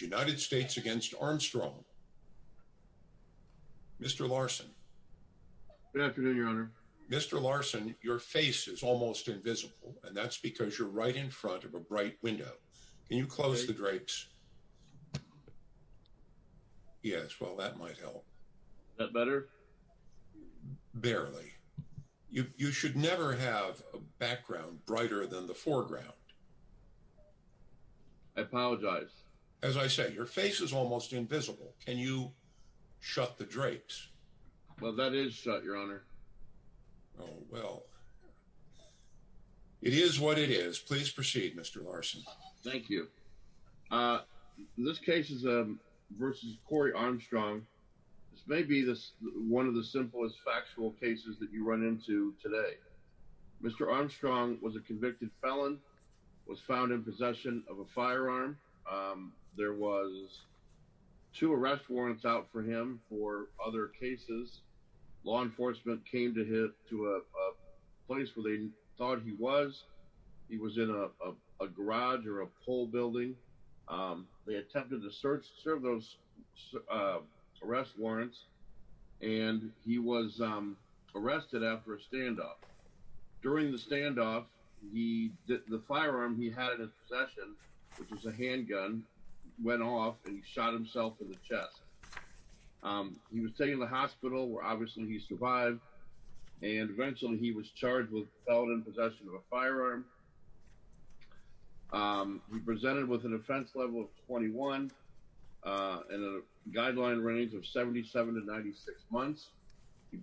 United States against Armstrong. Mr. Larson. Good afternoon, your honor. Mr. Larson, your face is almost invisible and that's because you're right in front of a bright window. Can you close the drapes? Yes. that might help that better. Barely you should never have a background brighter than the foreground. I apologize. As I said, your face is almost invisible. Can you shut the drapes? Well, that is shut your honor. Well, it is what it is. Please proceed. Mr. Larson. Thank you. This case is a versus Korry Armstrong. This may be this one of the simplest factual cases that you run into today. Mr. Armstrong was a convicted felon was found in possession of a firearm. There was two arrest warrants out for him for other cases. Law enforcement came to hit to a place where they thought he was. He was in a garage or a pole building. They attempted to search serve those arrest warrants and he was arrested after a standoff during the standoff. He did the firearm. He had a possession which is a handgun went off and shot himself in the chest. He was taking the hospital where obviously he survived and eventually he was charged with felon in possession of a firearm. He presented with an offense level of 21 and a guideline range of 77 to 96 months. He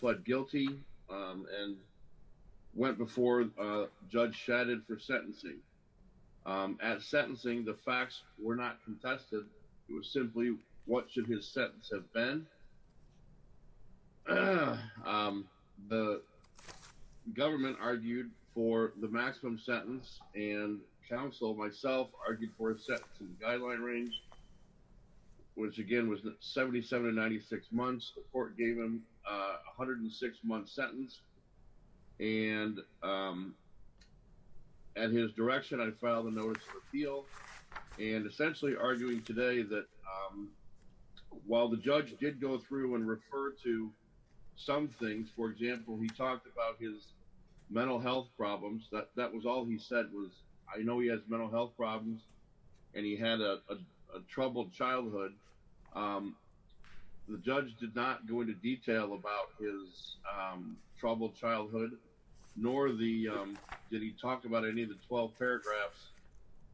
pled guilty and went before judge shattered for sentencing. At sentencing the facts were not contested. It was simply what should his sentence have been. The government argued for the maximum sentence and counsel myself argued for a set guideline range. Which again was that 77 to 96 months the court gave him 106 months sentence and at his direction. I filed a notice of appeal and essentially arguing today that while the judge did go through and refer to some things for example, he talked about his mental health problems that was all he said was I know he has mental health problems and he had a troubled childhood. The judge did not go into detail about his troubled childhood nor the did he talk about any of the 12 paragraphs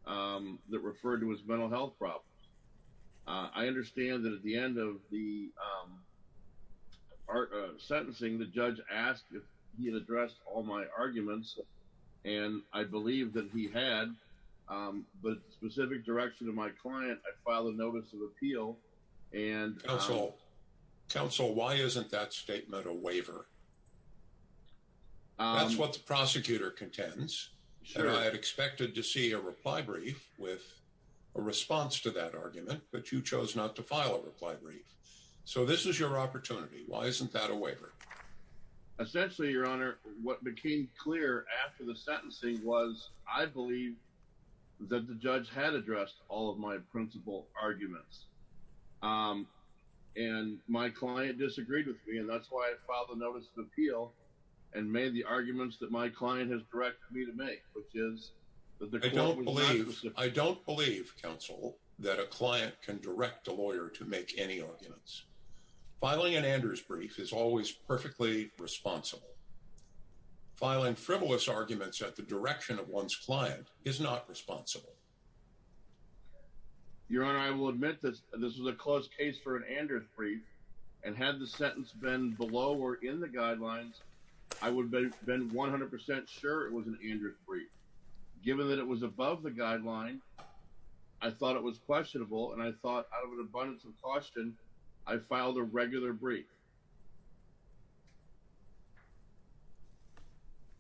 that refer to his mental health problems. I understand that at the end of the sentencing the judge asked if he had addressed all my arguments and I believe that he had but specific direction of my client. I filed a notice of appeal. And also counsel. Why isn't that statement a waiver? That's what the prosecutor contends. Sure. I had expected to see a reply brief with a response to that argument, but you chose not to file a reply brief. So this is your opportunity. Why isn't that a waiver? Essentially your honor what became clear after the sentencing was I believe that the judge had addressed all of my principal arguments and my client disagreed with me and that's why I filed a notice of appeal and made the arguments that my client has directed me to make which is that they don't believe I don't believe counsel that a client can direct a lawyer to make any arguments filing an Anders brief is always perfectly responsible filing frivolous arguments at the direction of one's client is not responsible. Your honor I will admit that this is a close case for an Anders brief and had the sentence been below or in the guidelines. I would have been 100% sure it was an Anders brief given that it was above the guideline. I thought it was questionable and I thought out of an abundance of caution I filed a regular brief.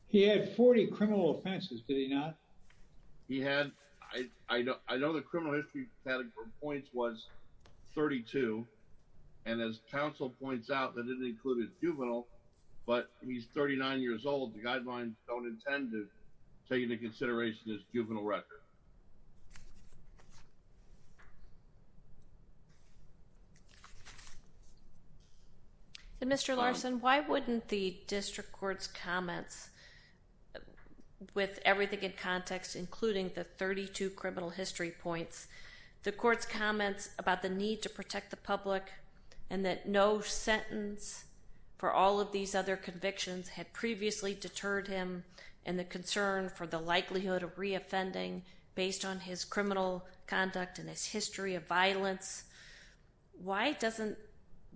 He had 40 criminal offenses did he not? He had I know the criminal history category points was 32 and as counsel points out that it included juvenile but he's 39 years old the guidelines don't intend to take into consideration his juvenile record. Mr. Larson, why wouldn't the district courts comments with everything in context including the 32 criminal history points the courts comments about the need to protect the public and that no sentence for all of these other convictions had previously deterred him and the concern for the likelihood of reoffending based on his criminal conduct and his history of violence. Why doesn't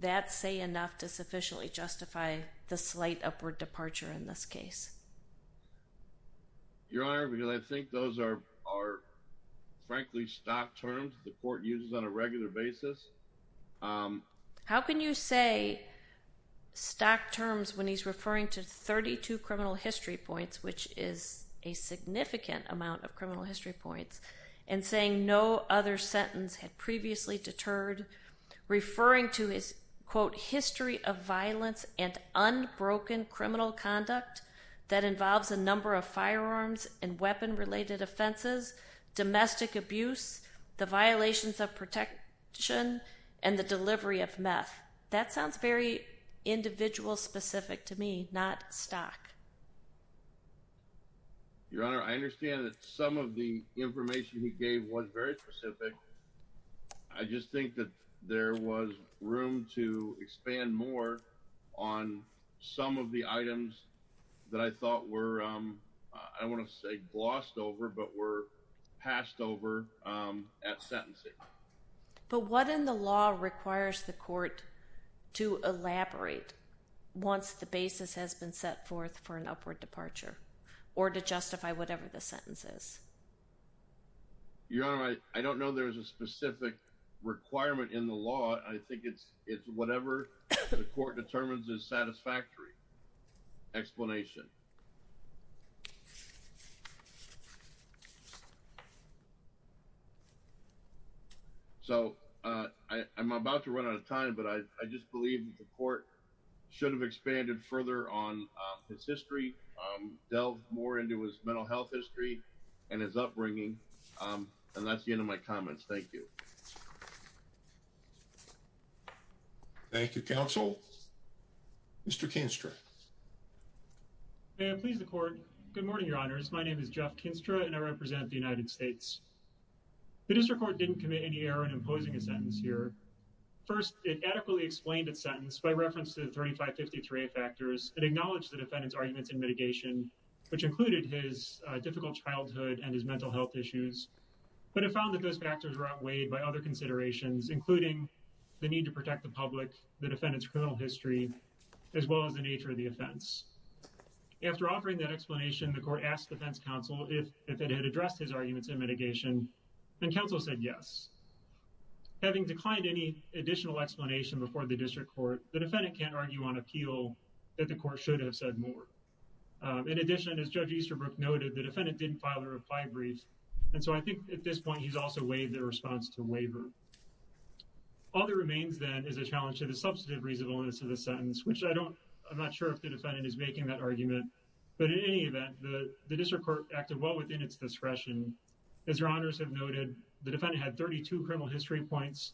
that say enough to sufficiently justify the slight upward departure in this case? Your honor because I think those are frankly stock terms the court uses on a regular basis. How can you say stock terms when he's referring to 32 criminal history points, which is a significant amount of criminal history points and saying no other sentence had previously deterred referring to his quote history of violence and unbroken criminal conduct that involves a number of firearms and weapon related offenses domestic abuse the violations of protection and the delivery of meth that sounds very individual specific to me not stock. Your honor. I understand that some of the information he gave was very specific. I just think that there was room to expand more on some of the items that I thought were I want to say glossed over but were passed over at sentencing. But what in the law requires the court to elaborate once the basis has been set forth for an upward departure or to justify whatever the sentence is. Your honor. I don't know. There's a specific requirement in the law. I think it's it's whatever the court determines is satisfactory. Explanation. So I'm about to run out of time, but I just believe the court should have expanded further on his history delve more into his mental health history and his upbringing and that's the end of my comments. Thank you. Thank you counsel. Mr. Kinstra. And please the court. Good morning. Your honors. My name is Jeff Kinstra and I represent the United States. The district court didn't commit any error in imposing a sentence here. First it adequately explained its sentence by reference to the 3553 factors and acknowledge the defendant's arguments in mitigation which included his difficult childhood and his mental health issues, but it found that those factors were outweighed by other considerations including the need to protect the public the defendant's criminal history as well as the nature of the offense. After offering that explanation the court asked defense counsel if it had addressed his arguments in mitigation and counsel said yes. Having declined any additional explanation before the district court the defendant can't argue on appeal that the court should have said more. In addition as Judge Easterbrook noted the defendant didn't file response to waiver. All that remains then is a challenge to the substantive reasonableness of the sentence, which I don't I'm not sure if the defendant is making that argument, but in any event the district court acted well within its discretion. As your honors have noted the defendant had 32 criminal history points.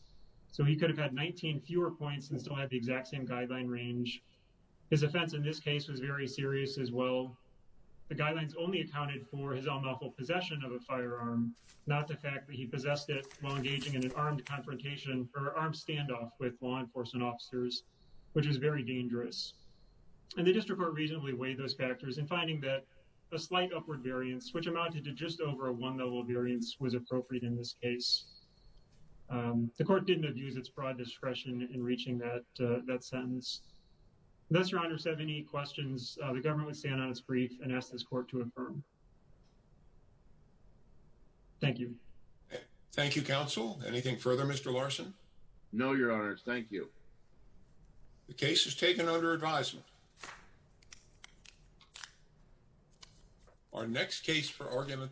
So he could have had 19 fewer points and still had the exact same guideline range. His offense in this case was very serious as well. The guidelines only accounted for his own awful possession of a firearm not the fact that he possessed it while engaging in an armed confrontation or armed standoff with law enforcement officers, which is very dangerous. And the district court reasonably weighed those factors and finding that a slight upward variance which amounted to just over a one level variance was appropriate in this case. The court didn't abuse its broad discretion in reaching that that sentence. Unless your honors have any questions the government would stand on its grief and ask this court to affirm. Thank you. Thank you counsel. Anything further Mr. Larson? No, your honors. Thank you. The case is taken under advisement. Our next case for argument.